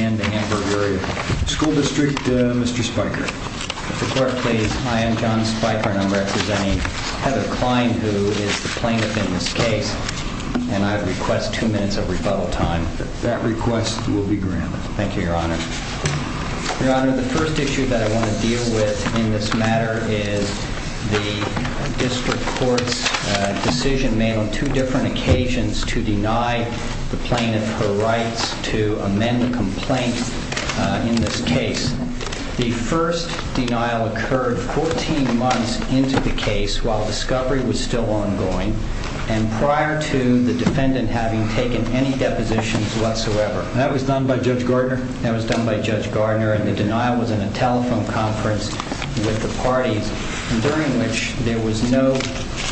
and the Hamburg Area School District, Mr. Spiker. Mr. Clark, please. Hi, I'm John Spiker and I'm representing Heather Kline, who is the plaintiff in this case, and I request two minutes of rebuttal time. That request will be granted. Thank you, Your Honor. Your Honor, the first issue that I want to deal with in this matter is the District Court's decision made on two different occasions to deny the plaintiff her rights to amend the complaint in this case. The first denial occurred 14 months into the case while discovery was still ongoing and prior to the defendant having taken any depositions whatsoever. That was done by Judge Gardner? That was done by Judge Gardner and the denial was in a telephone conference with the parties during which there was no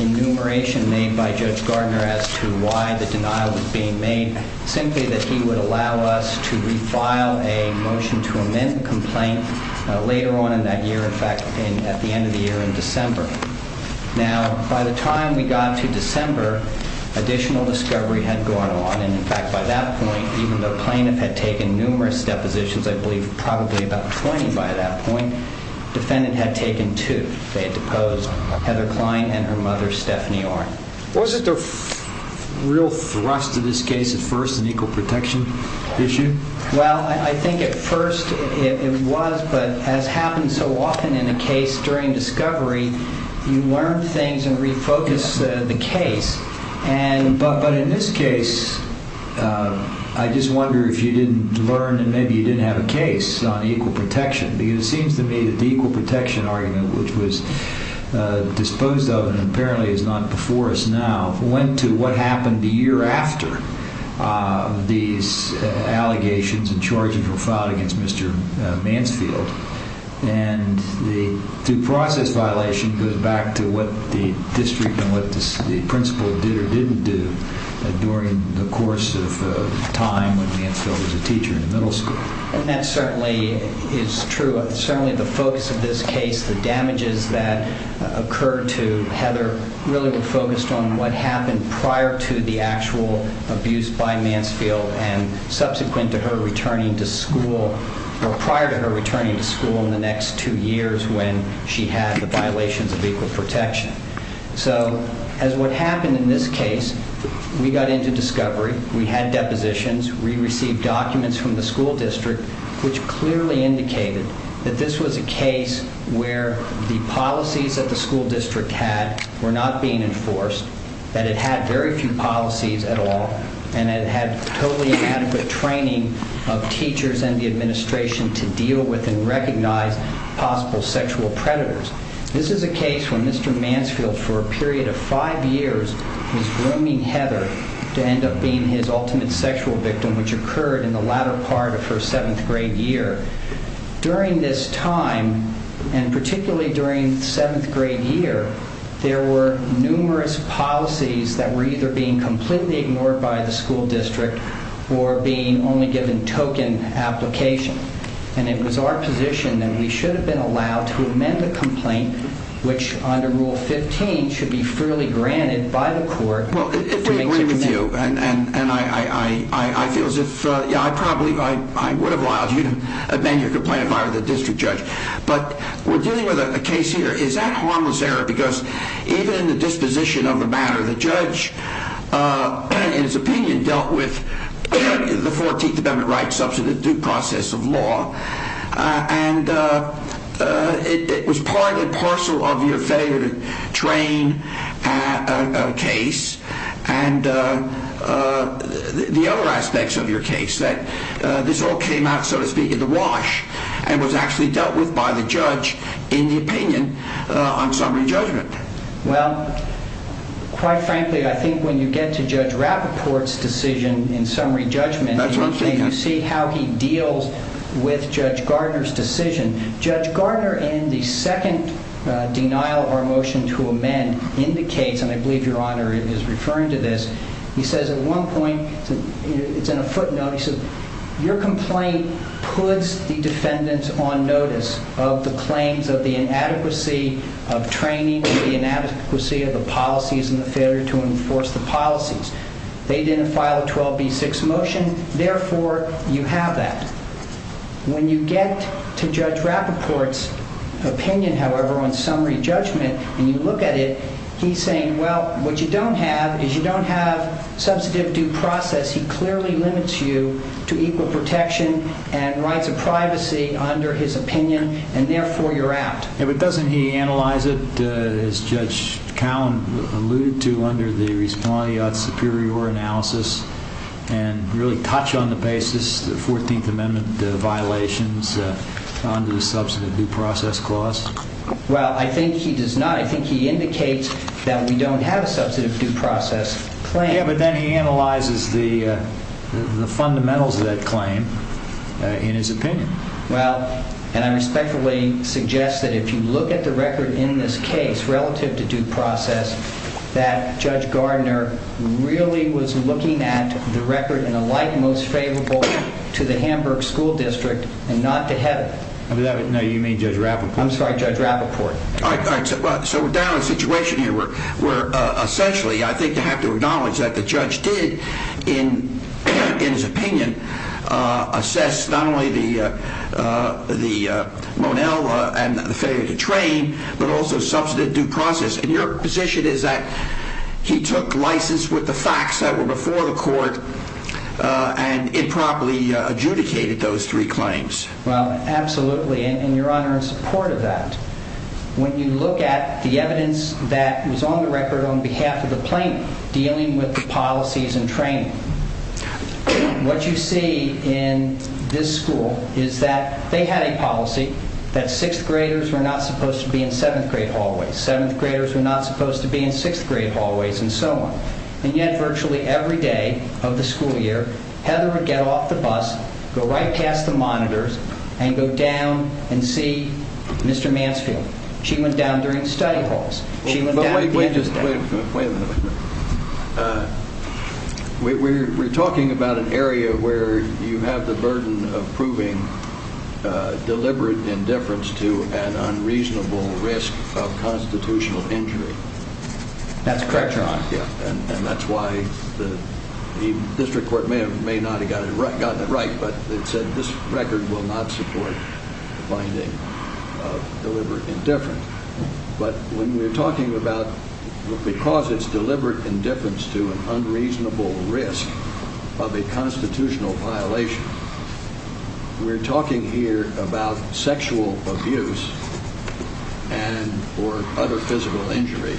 enumeration made by Judge Gardner as to why the denial was being made, simply that he would allow us to refile a motion to amend the complaint later on in that year, in fact, at the end of the year in December. Now, by the time we got to December, additional discovery had gone on and, in fact, by that point, even though the plaintiff had taken numerous depositions, I believe probably about 20 by that point, the defendant had taken two. They had deposed Heather Klein and her mother, Stephanie Orn. Was it a real thrust to this case at first, an equal protection issue? Well, I think at first it was, but as happens so often in a case during discovery, you learn things and refocus the case, but in this case, I just wonder if you didn't learn and maybe you didn't have a case on equal protection because it seems to me that the equal protection argument, which was disposed of and apparently is not before us now, went to what happened the year after these allegations and charges were filed against Mr. Mansfield and the due district and what the principal did or didn't do during the course of time when Mansfield was a teacher in the middle school. And that certainly is true. Certainly the focus of this case, the damages that occurred to Heather, really were focused on what happened prior to the actual abuse by Mansfield and subsequent to her returning to school or prior to her returning to school in the next two years when she had the violations of equal protection. So, as what happened in this case, we got into discovery, we had depositions, we received documents from the school district, which clearly indicated that this was a case where the policies that the school district had were not being enforced, that it had very few policies at all, and it had totally inadequate training of teachers and the administration to deal with and recognize possible sexual predators. This is a case where Mr. Mansfield, for a period of five years, was grooming Heather to end up being his ultimate sexual victim, which occurred in the latter part of her seventh grade year. During this time, and particularly during seventh grade year, there were numerous policies that were either being completely ignored by the school district or being only given token application. And it was our position that we should have been allowed to amend the complaint, which under Rule 15 should be freely granted by the court. Well, if we agree with you, and I feel as if I probably would have allowed you to amend your complaint if I were the district judge. But we're dealing with a case here. Is that harmless error? Because even in the disposition of the matter, the judge, in his opinion, dealt with the law. And it was part and parcel of your failure to train a case and the other aspects of your case that this all came out, so to speak, in the wash and was actually dealt with by the judge in the opinion on summary judgment. Well, quite frankly, I think when you get to Judge Rappaport's decision in summary judgment, you see how he deals with Judge Gardner's decision. Judge Gardner, in the second denial of our motion to amend, indicates, and I believe your Honor is referring to this, he says at one point, it's in a footnote, he says, your complaint puts the defendants on notice of the claims of the inadequacy of training and the inadequacy of the policies and the failure to enforce the policies. They didn't file a 12B6 motion. Therefore, you have that. When you get to Judge Rappaport's opinion, however, on summary judgment, and you look at it, he's saying, well, what you don't have is you don't have substantive due process. He clearly limits you to equal protection and rights of privacy under his opinion. And therefore, you're out. Yeah, but doesn't he analyze it, as Judge Cowen alluded to, under the Resplandiat Superior analysis and really touch on the basis of the 14th Amendment violations under the substantive due process clause? Well, I think he does not. I think he indicates that we don't have a substantive due process claim. Yeah, but then he analyzes the fundamentals of that claim in his opinion. Well, and I respectfully suggest that if you look at the record in this case relative to due process, that Judge Gardner really was looking at the record in a light most favorable to the Hamburg School District and not to Heaven. No, you mean Judge Rappaport. I'm sorry, Judge Rappaport. All right, so we're down to a situation here where essentially I think you have to the Monel and the failure to train, but also substantive due process. And your position is that he took license with the facts that were before the court and improperly adjudicated those three claims. Well, absolutely. And your Honor, in support of that, when you look at the evidence that was on the record on behalf of the plaintiff dealing with the policies and training, what you see in this school is that they had a policy that sixth graders were not supposed to be in seventh grade hallways. Seventh graders were not supposed to be in sixth grade hallways and so on. And yet virtually every day of the school year, Heather would get off the bus, go right past the monitors, and go down and see Mr. Mansfield. She went down during study halls. She went down at the end of the day. Wait a minute. We're talking about an area where you have the burden of proving deliberate indifference to an unreasonable risk of constitutional injury. That's correct, Your Honor. And that's why the district court may not have gotten it right, but it said this record will not support the finding of deliberate indifference. But when we're talking about because it's deliberate indifference to an unreasonable risk of a constitutional violation, we're talking here about sexual abuse and or other physical injury.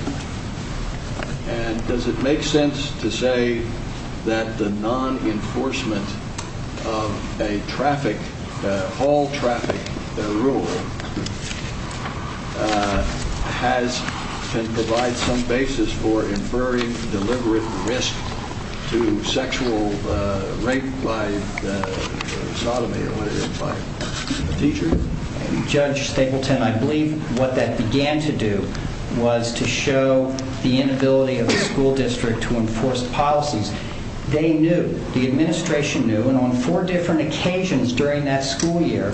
And does it make sense to say that the non-enforcement of a traffic, hall traffic rule, has to provide some basis for inferring deliberate risk to sexual rape by sodomy or whatever by a teacher? Judge Stapleton, I believe what that began to do was to show the inability of the school district to enforce policies. They knew. The administration knew. And on four different occasions during that school year,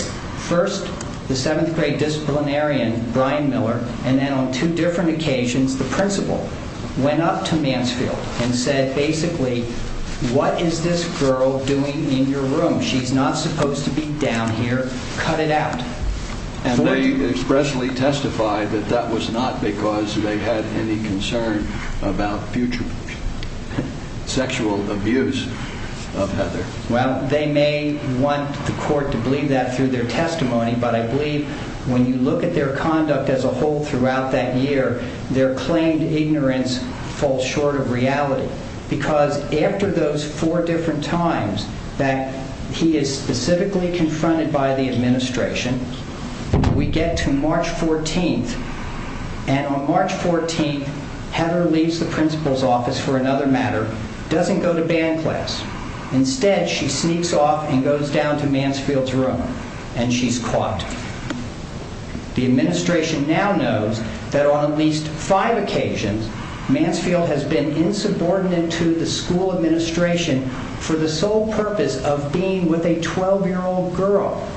first, the seventh grade disciplinarian, Brian Miller, and then on two different occasions, the principal went up to Mansfield and said basically, what is this girl doing in your room? She's not supposed to be down here. Cut it out. And they expressly testified that that was not because they had any concern about future sexual abuse of Heather. Well, they may want the court to believe that through their testimony. But I believe when you look at their conduct as a whole throughout that year, their claimed ignorance falls short of reality because after those four different times that he is specifically confronted by the administration, we get to March 14th. And on March 14th, Heather leaves the principal's office for another matter, doesn't go to band class. Instead, she sneaks off and goes down to Mansfield's room. And she's caught. The administration now knows that on at least five occasions, Mansfield has been insubordinate to the school administration for the sole purpose of being with a 12-year-old girl.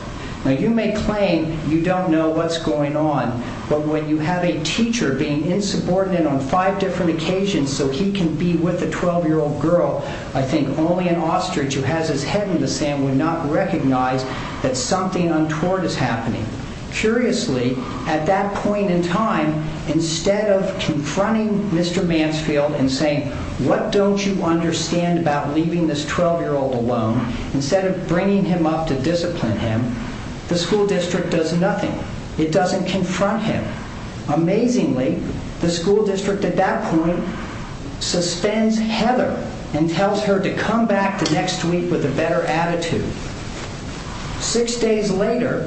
Now, you may claim you don't know what's going on. But when you have a teacher being insubordinate on five different occasions so he can be with a 12-year-old girl, I think only an ostrich who has his head in the sand would not recognize that something untoward is happening. Curiously, at that point in time, instead of confronting Mr. Mansfield and saying, what don't you understand about leaving this 12-year-old alone? Instead of bringing him up to discipline him, the school district does nothing. It doesn't confront him. Amazingly, the school district at that point suspends Heather and tells her to come back the next week with a better attitude. Six days later,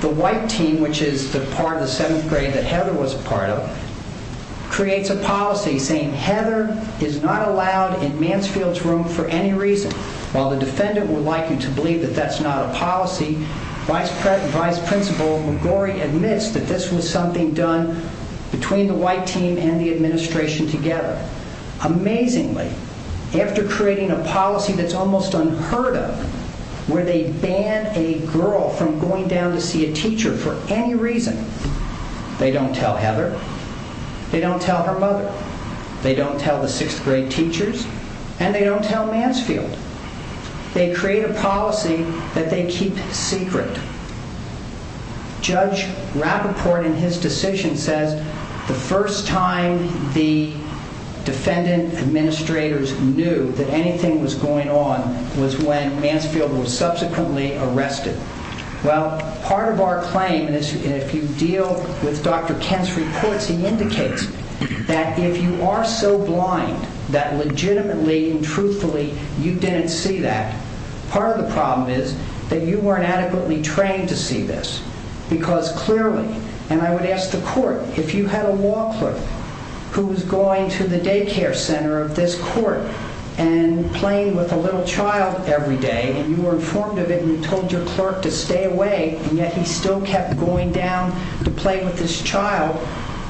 the white team, which is the part of the seventh grade that Heather was a part of, creates a policy saying Heather is not allowed in Mansfield's room for any reason. While the defendant would like you to believe that that's not a policy, Vice Principal McGorry admits that this was something done between the white team and the administration together. Amazingly, after creating a policy that's almost unheard of, where they ban a girl from going down to see a teacher for any reason, they don't tell Heather, they don't tell her mother, they don't tell the sixth grade teachers, and they don't tell Mansfield. They create a policy that they keep secret. Judge Rappaport, in his decision, says the first time the defendant administrators knew that anything was going on was when Mansfield was subsequently arrested. Well, part of our claim, and if you deal with Dr. Kent's reports, he indicates that if you are so blind that legitimately and truthfully you didn't see that, part of the problem is that you weren't adequately trained to see this because clearly, and I would ask the court, if you had a law clerk who was going to the daycare center of this court and playing with a little child every day and you were informed of it and you told your clerk to stay away and yet he still kept going down to play with this child,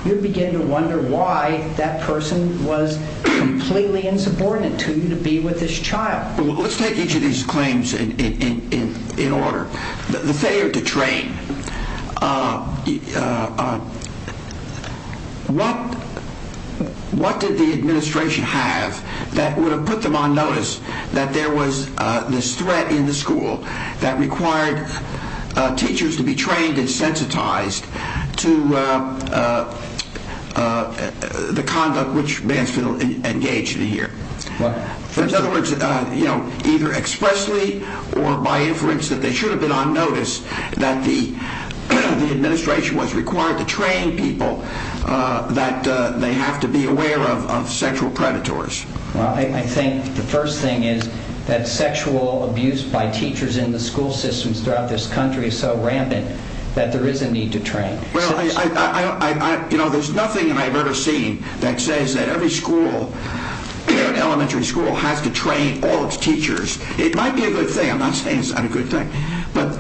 you begin to wonder why that person was completely insubordinate to you to be with this child. Let's take each of these claims in order. The failure to train, what did the administration have that would have put them on notice that there was this threat in the school that required teachers to be trained and sensitized to the conduct which Mansfield engaged in here? In other words, either expressly or by inference that they should have been on notice that the administration was required to train people that they have to be aware of sexual predators. Well, I think the first thing is that sexual abuse by teachers in the school systems throughout this country is so rampant that there is a need to train. Well, there is nothing that I have ever seen that says that every elementary school has to train all its teachers. It might be a good thing, I'm not saying it's not a good thing, but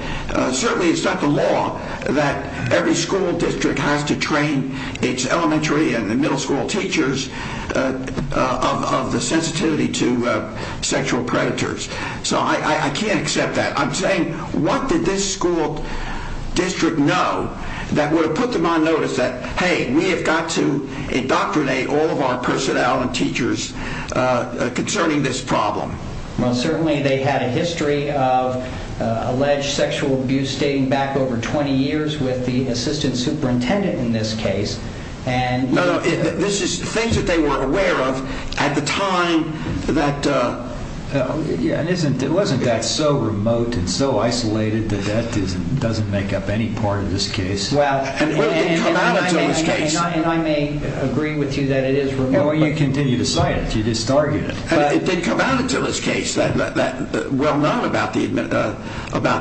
certainly it's not the law that every school district has to train its elementary and middle school teachers of the sensitivity to sexual predators. So I can't accept that. I'm saying what did this school district know that would have put them on notice that, hey, we have got to indoctrinate all of our personnel and teachers concerning this problem? Well, certainly they had a history of alleged sexual abuse dating back over 20 years with the assistant superintendent in this case. No, no, this is things that they were aware of at the time that... Yeah, and wasn't that so remote and so isolated that that doesn't make up any part of this case? Well, it didn't come out until this case. And I may agree with you that it is remote. Well, you continue to cite it, you just target it. It didn't come out until this case, well known about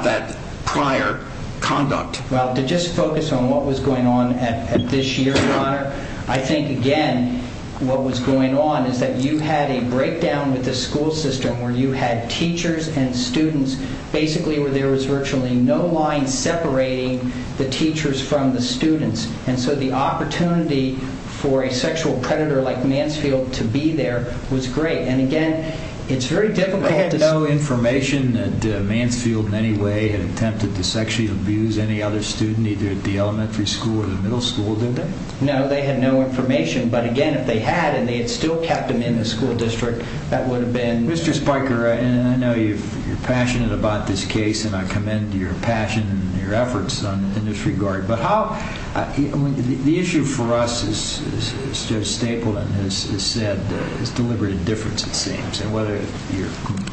that prior conduct. Well, to just focus on what was going on at this year, Your Honor, I think again what was going on is that you had a breakdown with the school system where you had teachers and students basically where there was virtually no line separating the teachers from the students. And so the opportunity for a sexual predator like Mansfield to be there was great. And again, it's very difficult to... They had no information that Mansfield in any way had attempted to sexually abuse any other student either at the elementary school or the middle school, did they? No, they had no information. But again, if they had and they had still kept them in the school district, that would have been... Mr. Spiker, I know you're passionate about this case and I commend your passion and your efforts in this regard. But how... The issue for us, as Judge Stapleton has said, is deliberate indifference, it seems. And whether you're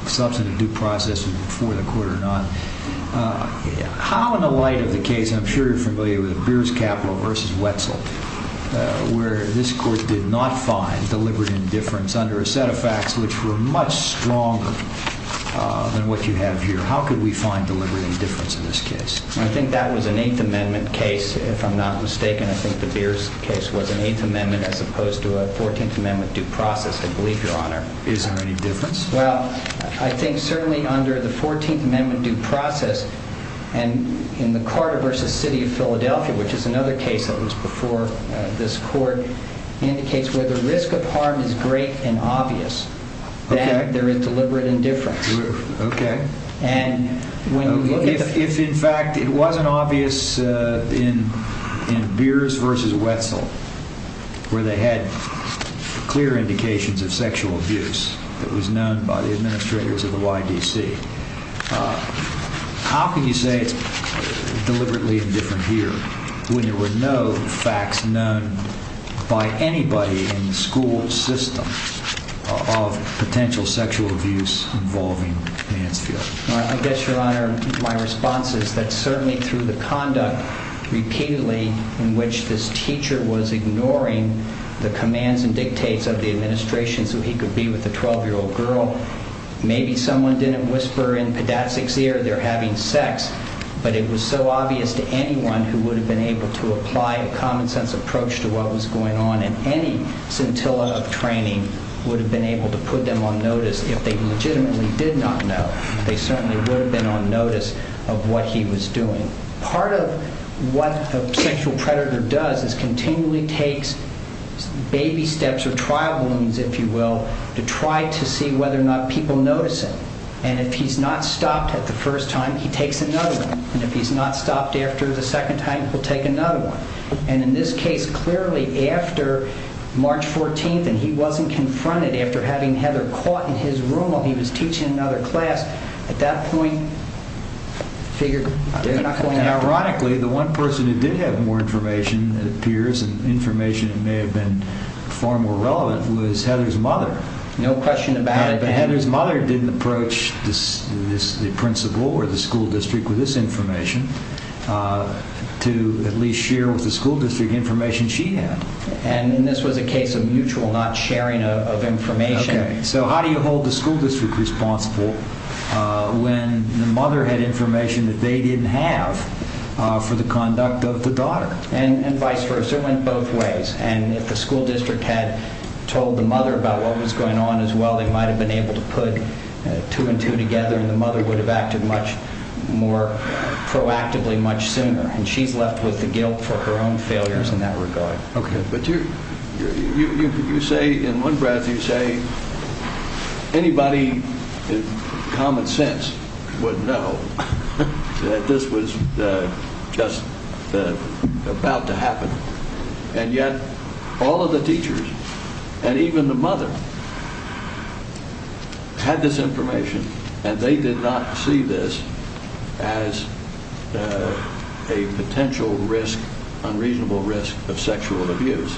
substantive due process for the court or not, how in the light of the case, I'm sure you're familiar with Beers Capital v. Wetzel, where this court did not find deliberate indifference under a set of facts which were much stronger than what you have here. How could we find deliberate indifference in this case? I think that was an Eighth Amendment case, if I'm not mistaken. I think the Beers case was an Eighth Amendment as opposed to a Fourteenth Amendment due process, I believe, Your Honor. Is there any difference? Well, I think certainly under the Fourteenth Amendment due process, and in the Carter v. City of Philadelphia, which is another case that was before this court, indicates where the risk of harm is great and obvious, that there is deliberate indifference. Okay. And when... If, in fact, it wasn't obvious in Beers v. Wetzel, where they had clear indications of sexual abuse, that was known by the administrators of the YDC, how can you say it's deliberately indifferent here when there were no facts known by anybody in the school system of potential sexual abuse involving Mansfield? Well, I guess, Your Honor, my response is that certainly through the conduct repeatedly in which this teacher was ignoring the commands and dictates of the administration so he could be with a 12-year-old girl, maybe someone didn't whisper in Padat's ear they're having sex, but it was so obvious to anyone who would have been able to apply a common-sense approach to what was going on, and any scintilla of training would have been able to put them on notice if they legitimately did not know. They certainly would have been on notice of what he was doing. Part of what a sexual predator does is continually takes baby steps or trial balloons, if you will, to try to see whether or not people notice it. And if he's not stopped at the first time, he takes another one. And if he's not stopped after the second time, he'll take another one. And in this case, clearly after March 14th, and he wasn't confronted after having Heather caught in his room while he was teaching another class, at that point, I figure, ironically, the one person who did have more information, it appears, and information that may have been far more relevant was Heather's mother. No question about it. But Heather's mother didn't approach the principal or the school district with this information to at least share with the school district information she had. And this was a case of mutual not sharing of information. Okay. So how do you hold the school district responsible when the mother had information that they didn't have for the conduct of the daughter? And vice versa. It went both ways. And if the school district had told the mother about what was going on as well, they might have been able to put two and two together, and the mother would have acted much more proactively much sooner. And she's left with the guilt for her own failures in that regard. Okay. But you say in one breath, you say anybody in common sense would know that this was just about to happen, and yet all of the teachers and even the mother had this information, and they did not see this as a potential risk, unreasonable risk of sexual abuse.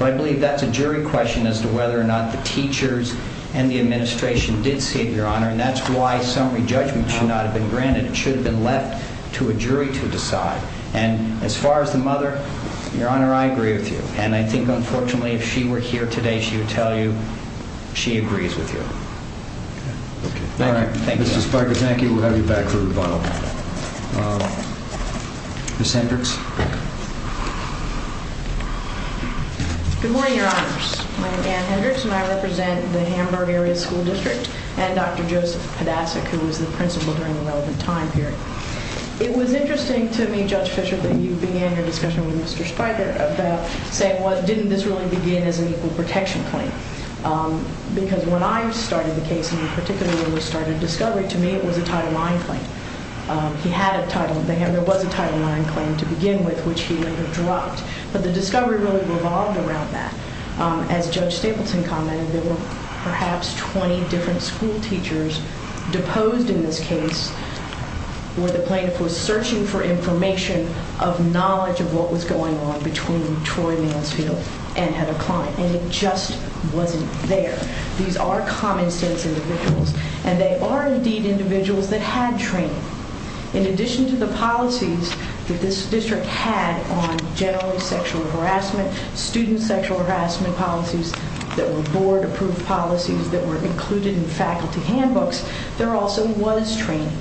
I believe that's a jury question as to whether or not the teachers and the administration did see it, Your Honor, and that's why some re-judgment should not have been granted. It should have been left to a jury to decide. And as far as the mother, Your Honor, I agree with you. And I think, unfortunately, if she were here today, she would tell you she agrees with you. Okay. Thank you. All right. Mr. Spikers, thank you. We'll have you back for rebuttal. Ms. Hendricks? Good morning, Your Honors. My name is Anne Hendricks, and I represent the Hamburg Area School District and Dr. Joseph Podasik, who was the principal during the relevant time period. It was interesting to me, Judge Fischer, that you began your discussion with Mr. Spiker about saying, well, didn't this really begin as an equal protection claim? Because when I started the case, and particularly when we started discovery, to me it was a title IX claim. He had a title. There was a title IX claim to begin with, which he later dropped. But the discovery really revolved around that. As Judge Stapleton commented, there were perhaps 20 different school teachers deposed in this case where the plaintiff was searching for information of knowledge of what was going on between Troy Mansfield and Heather Klein. And it just wasn't there. These are common sense individuals, and they are indeed individuals that had training. In addition to the policies that this district had on generally sexual harassment, student sexual harassment policies that were board-approved policies that were included in faculty handbooks, there also was training.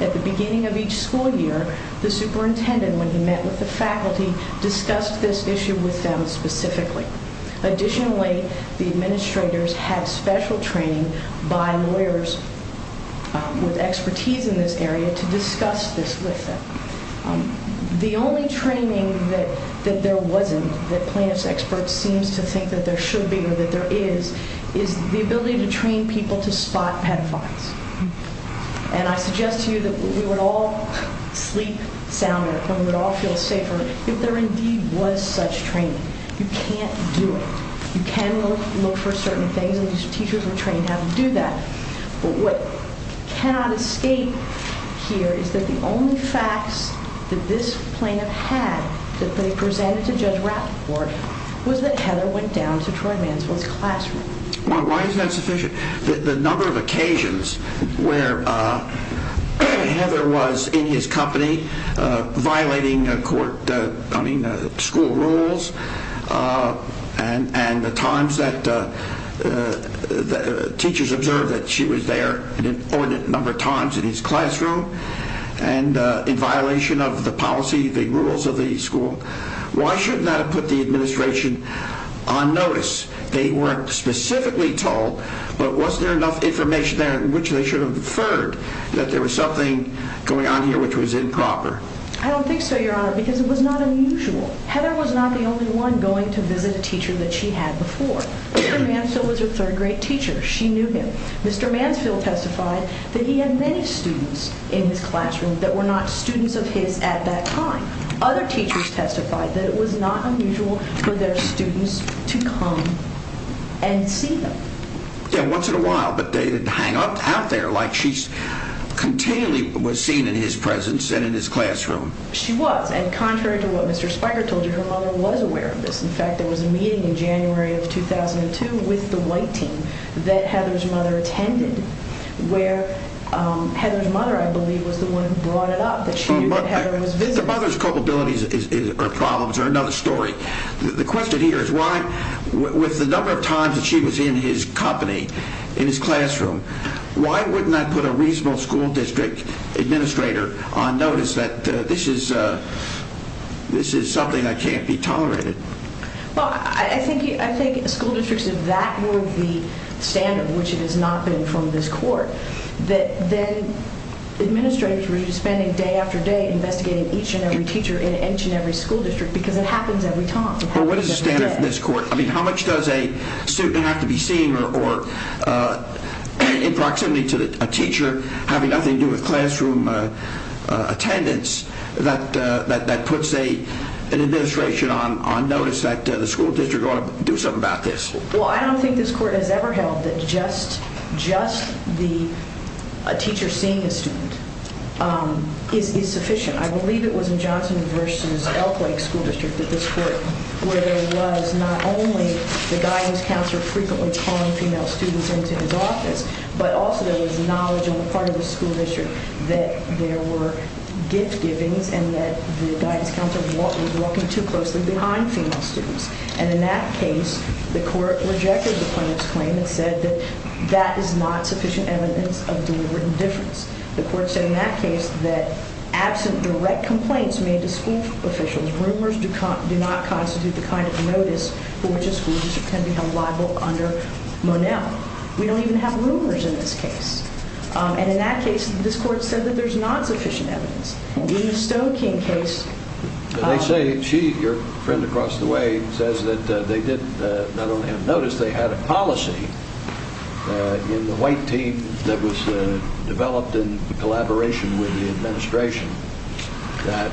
At the beginning of each school year, the superintendent, when he met with the faculty, discussed this issue with them specifically. Additionally, the administrators had special training by lawyers with expertise in this area to discuss this with them. The only training that there wasn't, that plaintiff's expert seems to think that there should be or that there is, is the ability to train people to spot pedophiles. And I suggest to you that we would all sleep soundly and we would all feel safer if there indeed was such training. You can't do it. You can look for certain things, and these teachers were trained how to do that. But what cannot escape here is that the only facts that this plaintiff had that they presented to Judge Rathbore was that Heather went down to Troy Mansfield's classroom. Why is that sufficient? The number of occasions where Heather was in his company violating school rules and the times that teachers observed that she was there an inordinate number of times in his classroom and in violation of the policy, the rules of the school, why shouldn't that have put the administration on notice? They weren't specifically told, but was there enough information there in which they should have inferred that there was something going on here which was improper? I don't think so, Your Honor, because it was not unusual. Heather was not the only one going to visit a teacher that she had before. Mr. Mansfield was her third grade teacher. She knew him. Mr. Mansfield testified that he had many students in his classroom that were not students of his at that time. Other teachers testified that it was not unusual for their students to come and see them. Yeah, once in a while, but they didn't hang out there like she continually was seen in his presence and in his classroom. She was, and contrary to what Mr. Spiker told you, her mother was aware of this. In fact, there was a meeting in January of 2002 with the white team that Heather's mother attended where Heather's mother, I believe, was the one who brought it up that she knew that Heather was visiting. The mother's culpabilities or problems are another story. The question here is why, with the number of times that she was in his company, in his classroom, why wouldn't I put a reasonable school district administrator on notice that this is something that can't be tolerated? Well, I think school districts, if that were the standard, which it has not been from this court, that then administrators were spending day after day investigating each and every teacher in each and every school district because it happens every time. Well, what is the standard from this court? I mean, how much does a student have to be seen or in proximity to a teacher having nothing to do with classroom attendance that puts an administration on notice that the school district ought to do something about this? Well, I don't think this court has ever held that just the teacher seeing a student is sufficient. I believe it was in Johnson v. Elk Lake School District that this court, where there was not only the guidance counselor frequently calling female students into his office, but also there was knowledge on the part of the school district that there were gift-givings and that the guidance counselor was walking too closely behind female students. And in that case, the court rejected the plaintiff's claim and said that that is not sufficient evidence of deliberate indifference. The court said in that case that absent direct complaints made to school officials, rumors do not constitute the kind of notice for which a school district can be held liable under Monell. We don't even have rumors in this case. And in that case, this court said that there's not sufficient evidence. In the Stoking case- They say she, your friend across the way, says that they did not only have notice, they had a policy in the white team that was developed in collaboration with the administration that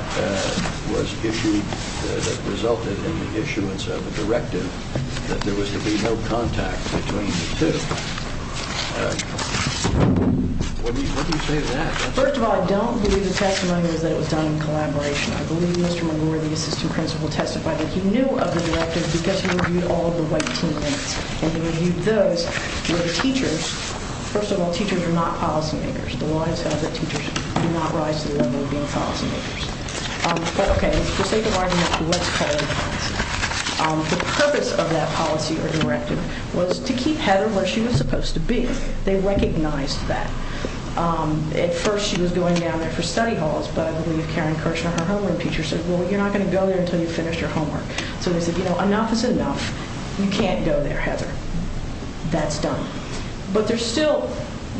resulted in the issuance of a directive that there was to be no contact between the two. What do you say to that? First of all, I don't believe the testimony was that it was done in collaboration. I believe Mr. McGore, the assistant principal, testified that he knew of the directive because he reviewed all of the white team minutes. And he reviewed those where the teachers- First of all, teachers are not policy makers. The line says that teachers do not rise to the level of being policy makers. Okay, for sake of argument, let's call it a policy. The purpose of that policy or directive was to keep Heather where she was supposed to be. They recognized that. At first she was going down there for study halls, but I believe Karen Kirshner, her homeroom teacher, said, well, you're not going to go there until you've finished your homework. So they said, you know, enough is enough. You can't go there, Heather. That's done. But there's still-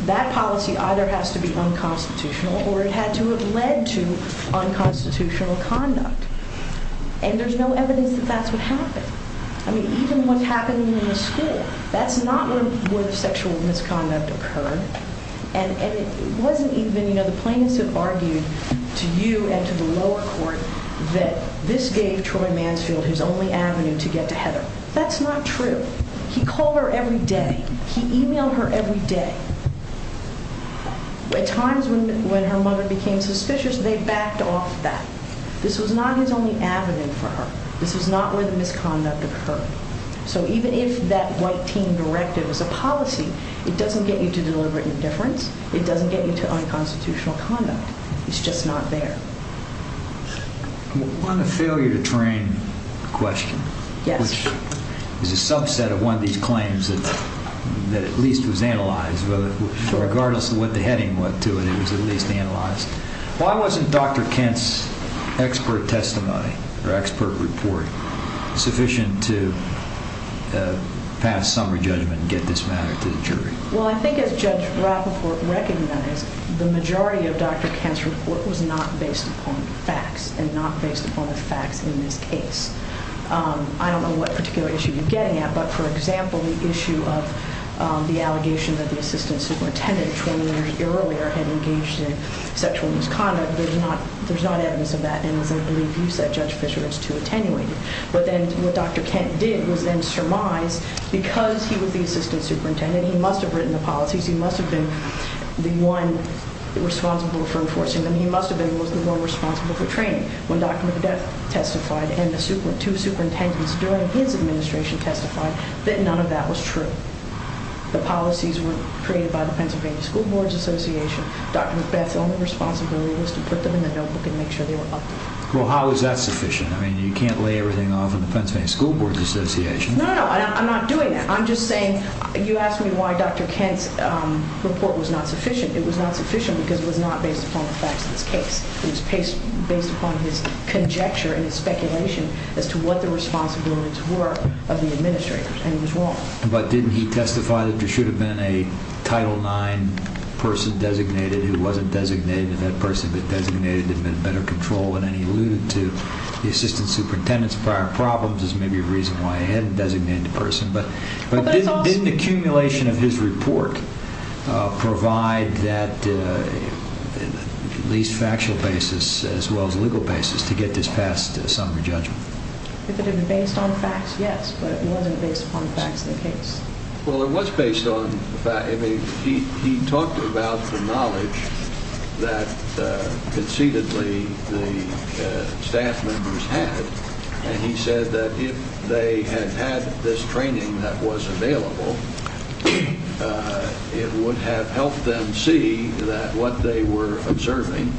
that policy either has to be unconstitutional or it had to have led to unconstitutional conduct. And there's no evidence that that's what happened. I mean, even what's happening in the school, that's not where the sexual misconduct occurred. And it wasn't even- you know, the plaintiffs have argued to you and to the lower court that this gave Troy Mansfield his only avenue to get to Heather. That's not true. He called her every day. He emailed her every day. At times when her mother became suspicious, they backed off that. This was not his only avenue for her. This was not where the misconduct occurred. So even if that white teen directive is a policy, it doesn't get you to deliberate indifference. It doesn't get you to unconstitutional conduct. It's just not there. On the failure to train question, which is a subset of one of these claims that at least was analyzed, regardless of what the heading was to it, it was at least analyzed. Why wasn't Dr. Kent's expert testimony or expert report sufficient to pass summary judgment and get this matter to the jury? Well, I think as Judge Rappaport recognized, the majority of Dr. Kent's report was not based upon facts and not based upon the facts in this case. I don't know what particular issue you're getting at, but for example, the issue of the allegation that the assistant superintendent 20 years earlier had engaged in sexual misconduct, there's not evidence of that. And as I believe you said, Judge Fischer, it's too attenuated. But then what Dr. Kent did was then surmise, because he was the assistant superintendent, he must have written the policies, he must have been the one responsible for enforcing them, he must have been the one responsible for training. When Dr. McBeth testified, and the two superintendents during his administration testified, that none of that was true. The policies were created by the Pennsylvania School Boards Association. Dr. McBeth's only responsibility was to put them in the notebook and make sure they were updated. Well, how is that sufficient? I mean, you can't lay everything off in the Pennsylvania School Boards Association. No, no, no, I'm not doing that. I'm just saying you asked me why Dr. Kent's report was not sufficient. It was not sufficient because it was not based upon the facts of this case. It was based upon his conjecture and his speculation as to what the responsibilities were of the administrators, and he was wrong. But didn't he testify that there should have been a Title IX person designated who wasn't designated, that person that designated him had better control, and then he alluded to the assistant superintendent's prior problems as maybe a reason why he hadn't designated a person. But didn't the accumulation of his report provide that least factual basis as well as legal basis to get this past a summary judgment? If it had been based on facts, yes, but it wasn't based upon facts of the case. Well, it was based on facts. He talked about the knowledge that concededly the staff members had, and he said that if they had had this training that was available, it would have helped them see that what they were observing,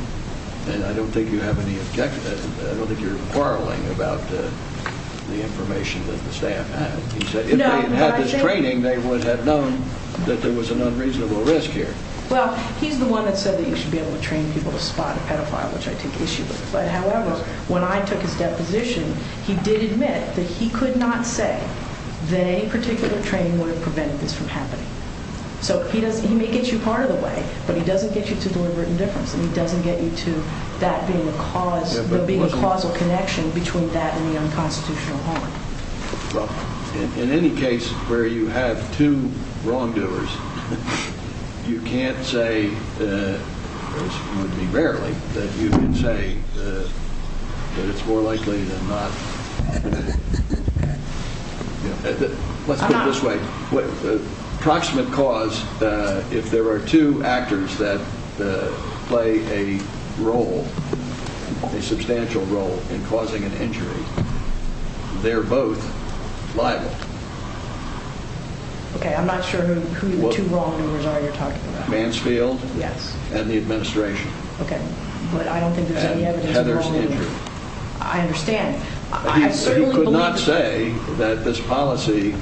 and I don't think you have any objection to that. I don't think you're quarreling about the information that the staff had. He said if they had had this training, they would have known that there was an unreasonable risk here. Well, he's the one that said that you should be able to train people to spot a pedophile, which I take issue with, but however, when I took his deposition, he did admit that he could not say that any particular training would have prevented this from happening. So he may get you part of the way, but he doesn't get you to deliberate indifference, and he doesn't get you to that being a causal connection between that and the unconstitutional harm. Well, in any case where you have two wrongdoers, you can't say, or it's going to be rarely that you can say that it's more likely than not. Let's put it this way. Approximate cause, if there are two actors that play a role, a substantial role in causing an injury, they're both liable. Okay, I'm not sure who the two wrongdoers are you're talking about. Mansfield and the administration. Okay, but I don't think there's any evidence of wrongdoing. And Heather's injury. I understand. He could not say that this policy,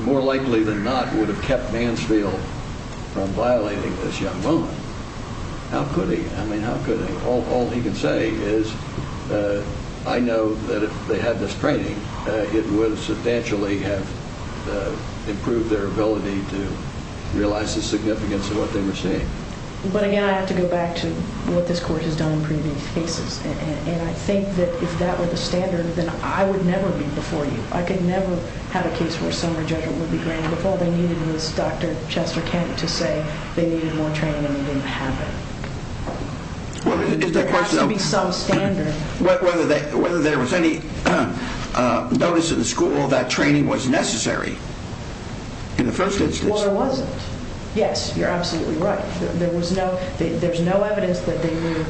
more likely than not, would have kept Mansfield from violating this young woman. How could he? I mean, how could he? All he can say is, I know that if they had this training, it would have substantially have improved their ability to realize the significance of what they were saying. But again, I have to go back to what this Court has done in previous cases, and I think that if that were the standard, then I would never be before you. I could never have a case where a summary judgment would be granted if all they needed was Dr. Chester Kent to say they needed more training and they didn't have it. There has to be some standard. Is the question of whether there was any notice in the school that training was necessary in the first instance? Well, there wasn't. Yes, you're absolutely right. There's no evidence that they were,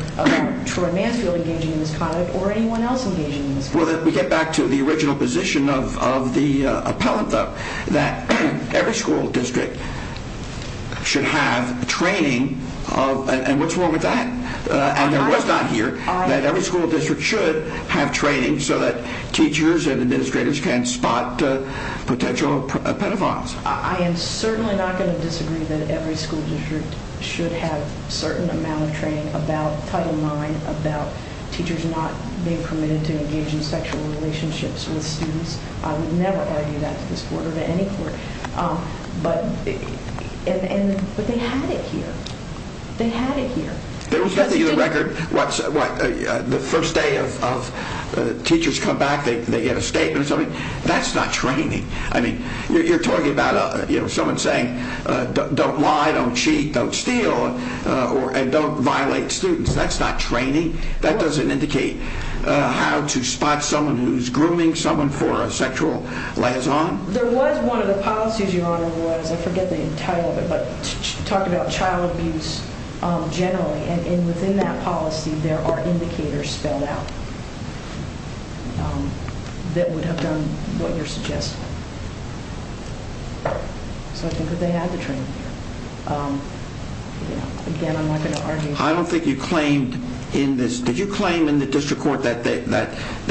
for Mansfield, engaging in this conduct or anyone else engaging in this conduct. Well, if we get back to the original position of the appellant, that every school district should have training. And what's wrong with that? And there was not here that every school district should have training so that teachers and administrators can spot potential pedophiles. I am certainly not going to disagree that every school district should have a certain amount of training about Title IX, about teachers not being permitted to engage in sexual relationships with students. I would never argue that to this court or to any court. But they had it here. They had it here. There was nothing in the record. The first day of teachers come back, they get a statement or something. That's not training. You're talking about someone saying, don't lie, don't cheat, don't steal, and don't violate students. That's not training. That doesn't indicate how to spot someone who's grooming someone for a sexual liaison. There was one of the policies, Your Honor, was I forget the title of it, but talking about child abuse generally. And within that policy, there are indicators spelled out that would have done what you're suggesting. So I think that they had the training here. Again, I'm not going to argue. I don't think you claimed in this. Did you claim in the district court that there,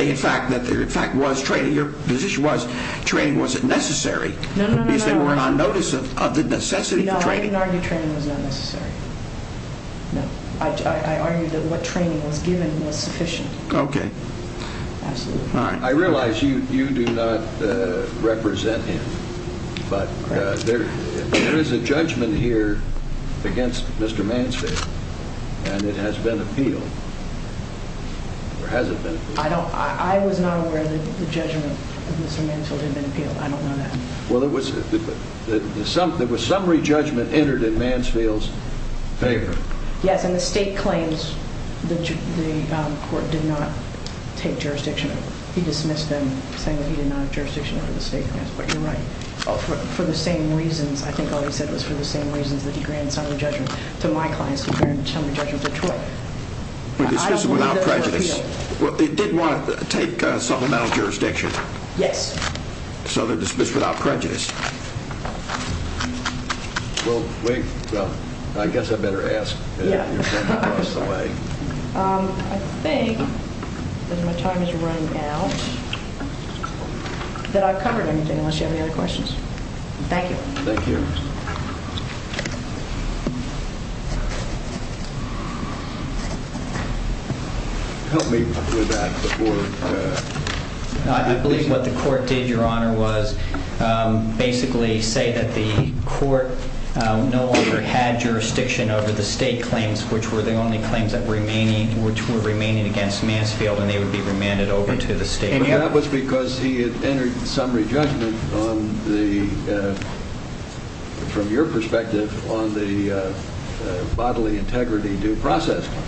in fact, was training? Your position was training wasn't necessary. No, no, no. Because they were on notice of the necessity for training. No, I didn't argue training was not necessary. I argued that what training was given was sufficient. Okay. Absolutely. All right. I realize you do not represent him, but there is a judgment here against Mr. Mansfield, and it has been appealed, or has it been appealed? I was not aware that the judgment of Mr. Mansfield had been appealed. I don't know that. Well, there was summary judgment entered in Mansfield's favor. Yes, and the state claims the court did not take jurisdiction. He dismissed them, saying that he did not have jurisdiction over the state claims. But you're right. For the same reasons, I think all he said was for the same reasons that he granted summary judgment to my clients. He granted summary judgment to Troy. He dismissed them without prejudice. Well, it did want to take supplemental jurisdiction. Yes. So they're dismissed without prejudice. Well, I guess I better ask. Yeah. I think, because my time is running out, that I've covered everything, unless you have any other questions. Thank you. Thank you. Help me with that before. I believe what the court did, Your Honor, was basically say that the court no longer had jurisdiction over the state claims, which were the only claims that were remaining, which were remaining against Mansfield, and they would be remanded over to the state. And that was because he had entered summary judgment on the, from your perspective, on the bodily integrity due process claim.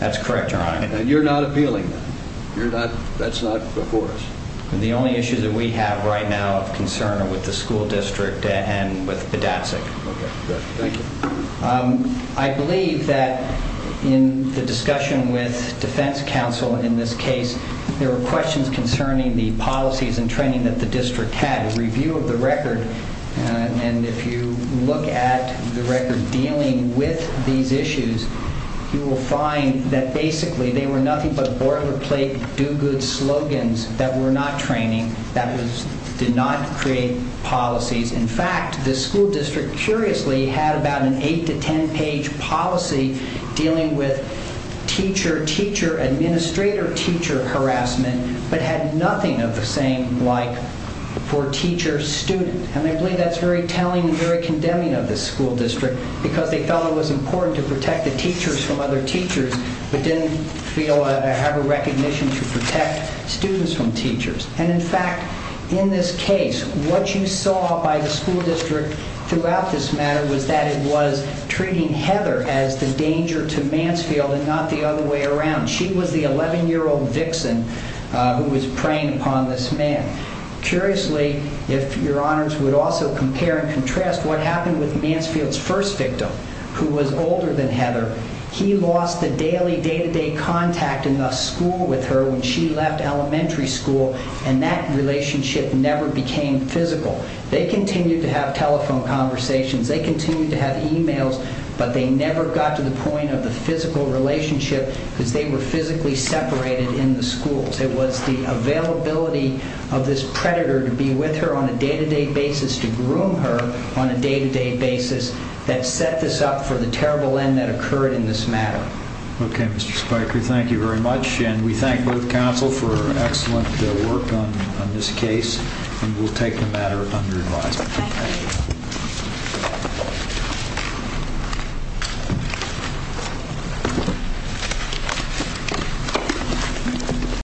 That's correct, Your Honor. And you're not appealing that. You're not. That's not before us. The only issues that we have right now of concern are with the school district and with Bedazic. Okay. Good. Thank you. I believe that in the discussion with defense counsel in this case, there were questions concerning the policies and training that the district had, a review of the record. And if you look at the record dealing with these issues, you will find that basically they were nothing but boilerplate do-good slogans that were not training, that did not create policies. In fact, the school district curiously had about an eight- to ten-page policy dealing with teacher-teacher, administrator-teacher harassment, but had nothing of the same like for teacher-student. And I believe that's very telling and very condemning of the school district because they thought it was important to protect the teachers from other teachers, but didn't feel or have a recognition to protect students from teachers. And, in fact, in this case, what you saw by the school district throughout this matter was that it was treating Heather as the danger to Mansfield and not the other way around. She was the 11-year-old vixen who was preying upon this man. Curiously, if your honors would also compare and contrast what happened with Mansfield's first victim, who was older than Heather, he lost the daily, day-to-day contact in the school with her when she left elementary school, and that relationship never became physical. They continued to have telephone conversations. They continued to have emails, but they never got to the point of the physical relationship because they were physically separated in the schools. It was the availability of this predator to be with her on a day-to-day basis, to groom her on a day-to-day basis, that set this up for the terrible end that occurred in this matter. Okay, Mr. Spiker, thank you very much, and we thank both counsel for excellent work on this case, and we'll take the matter under advisement. Thank you.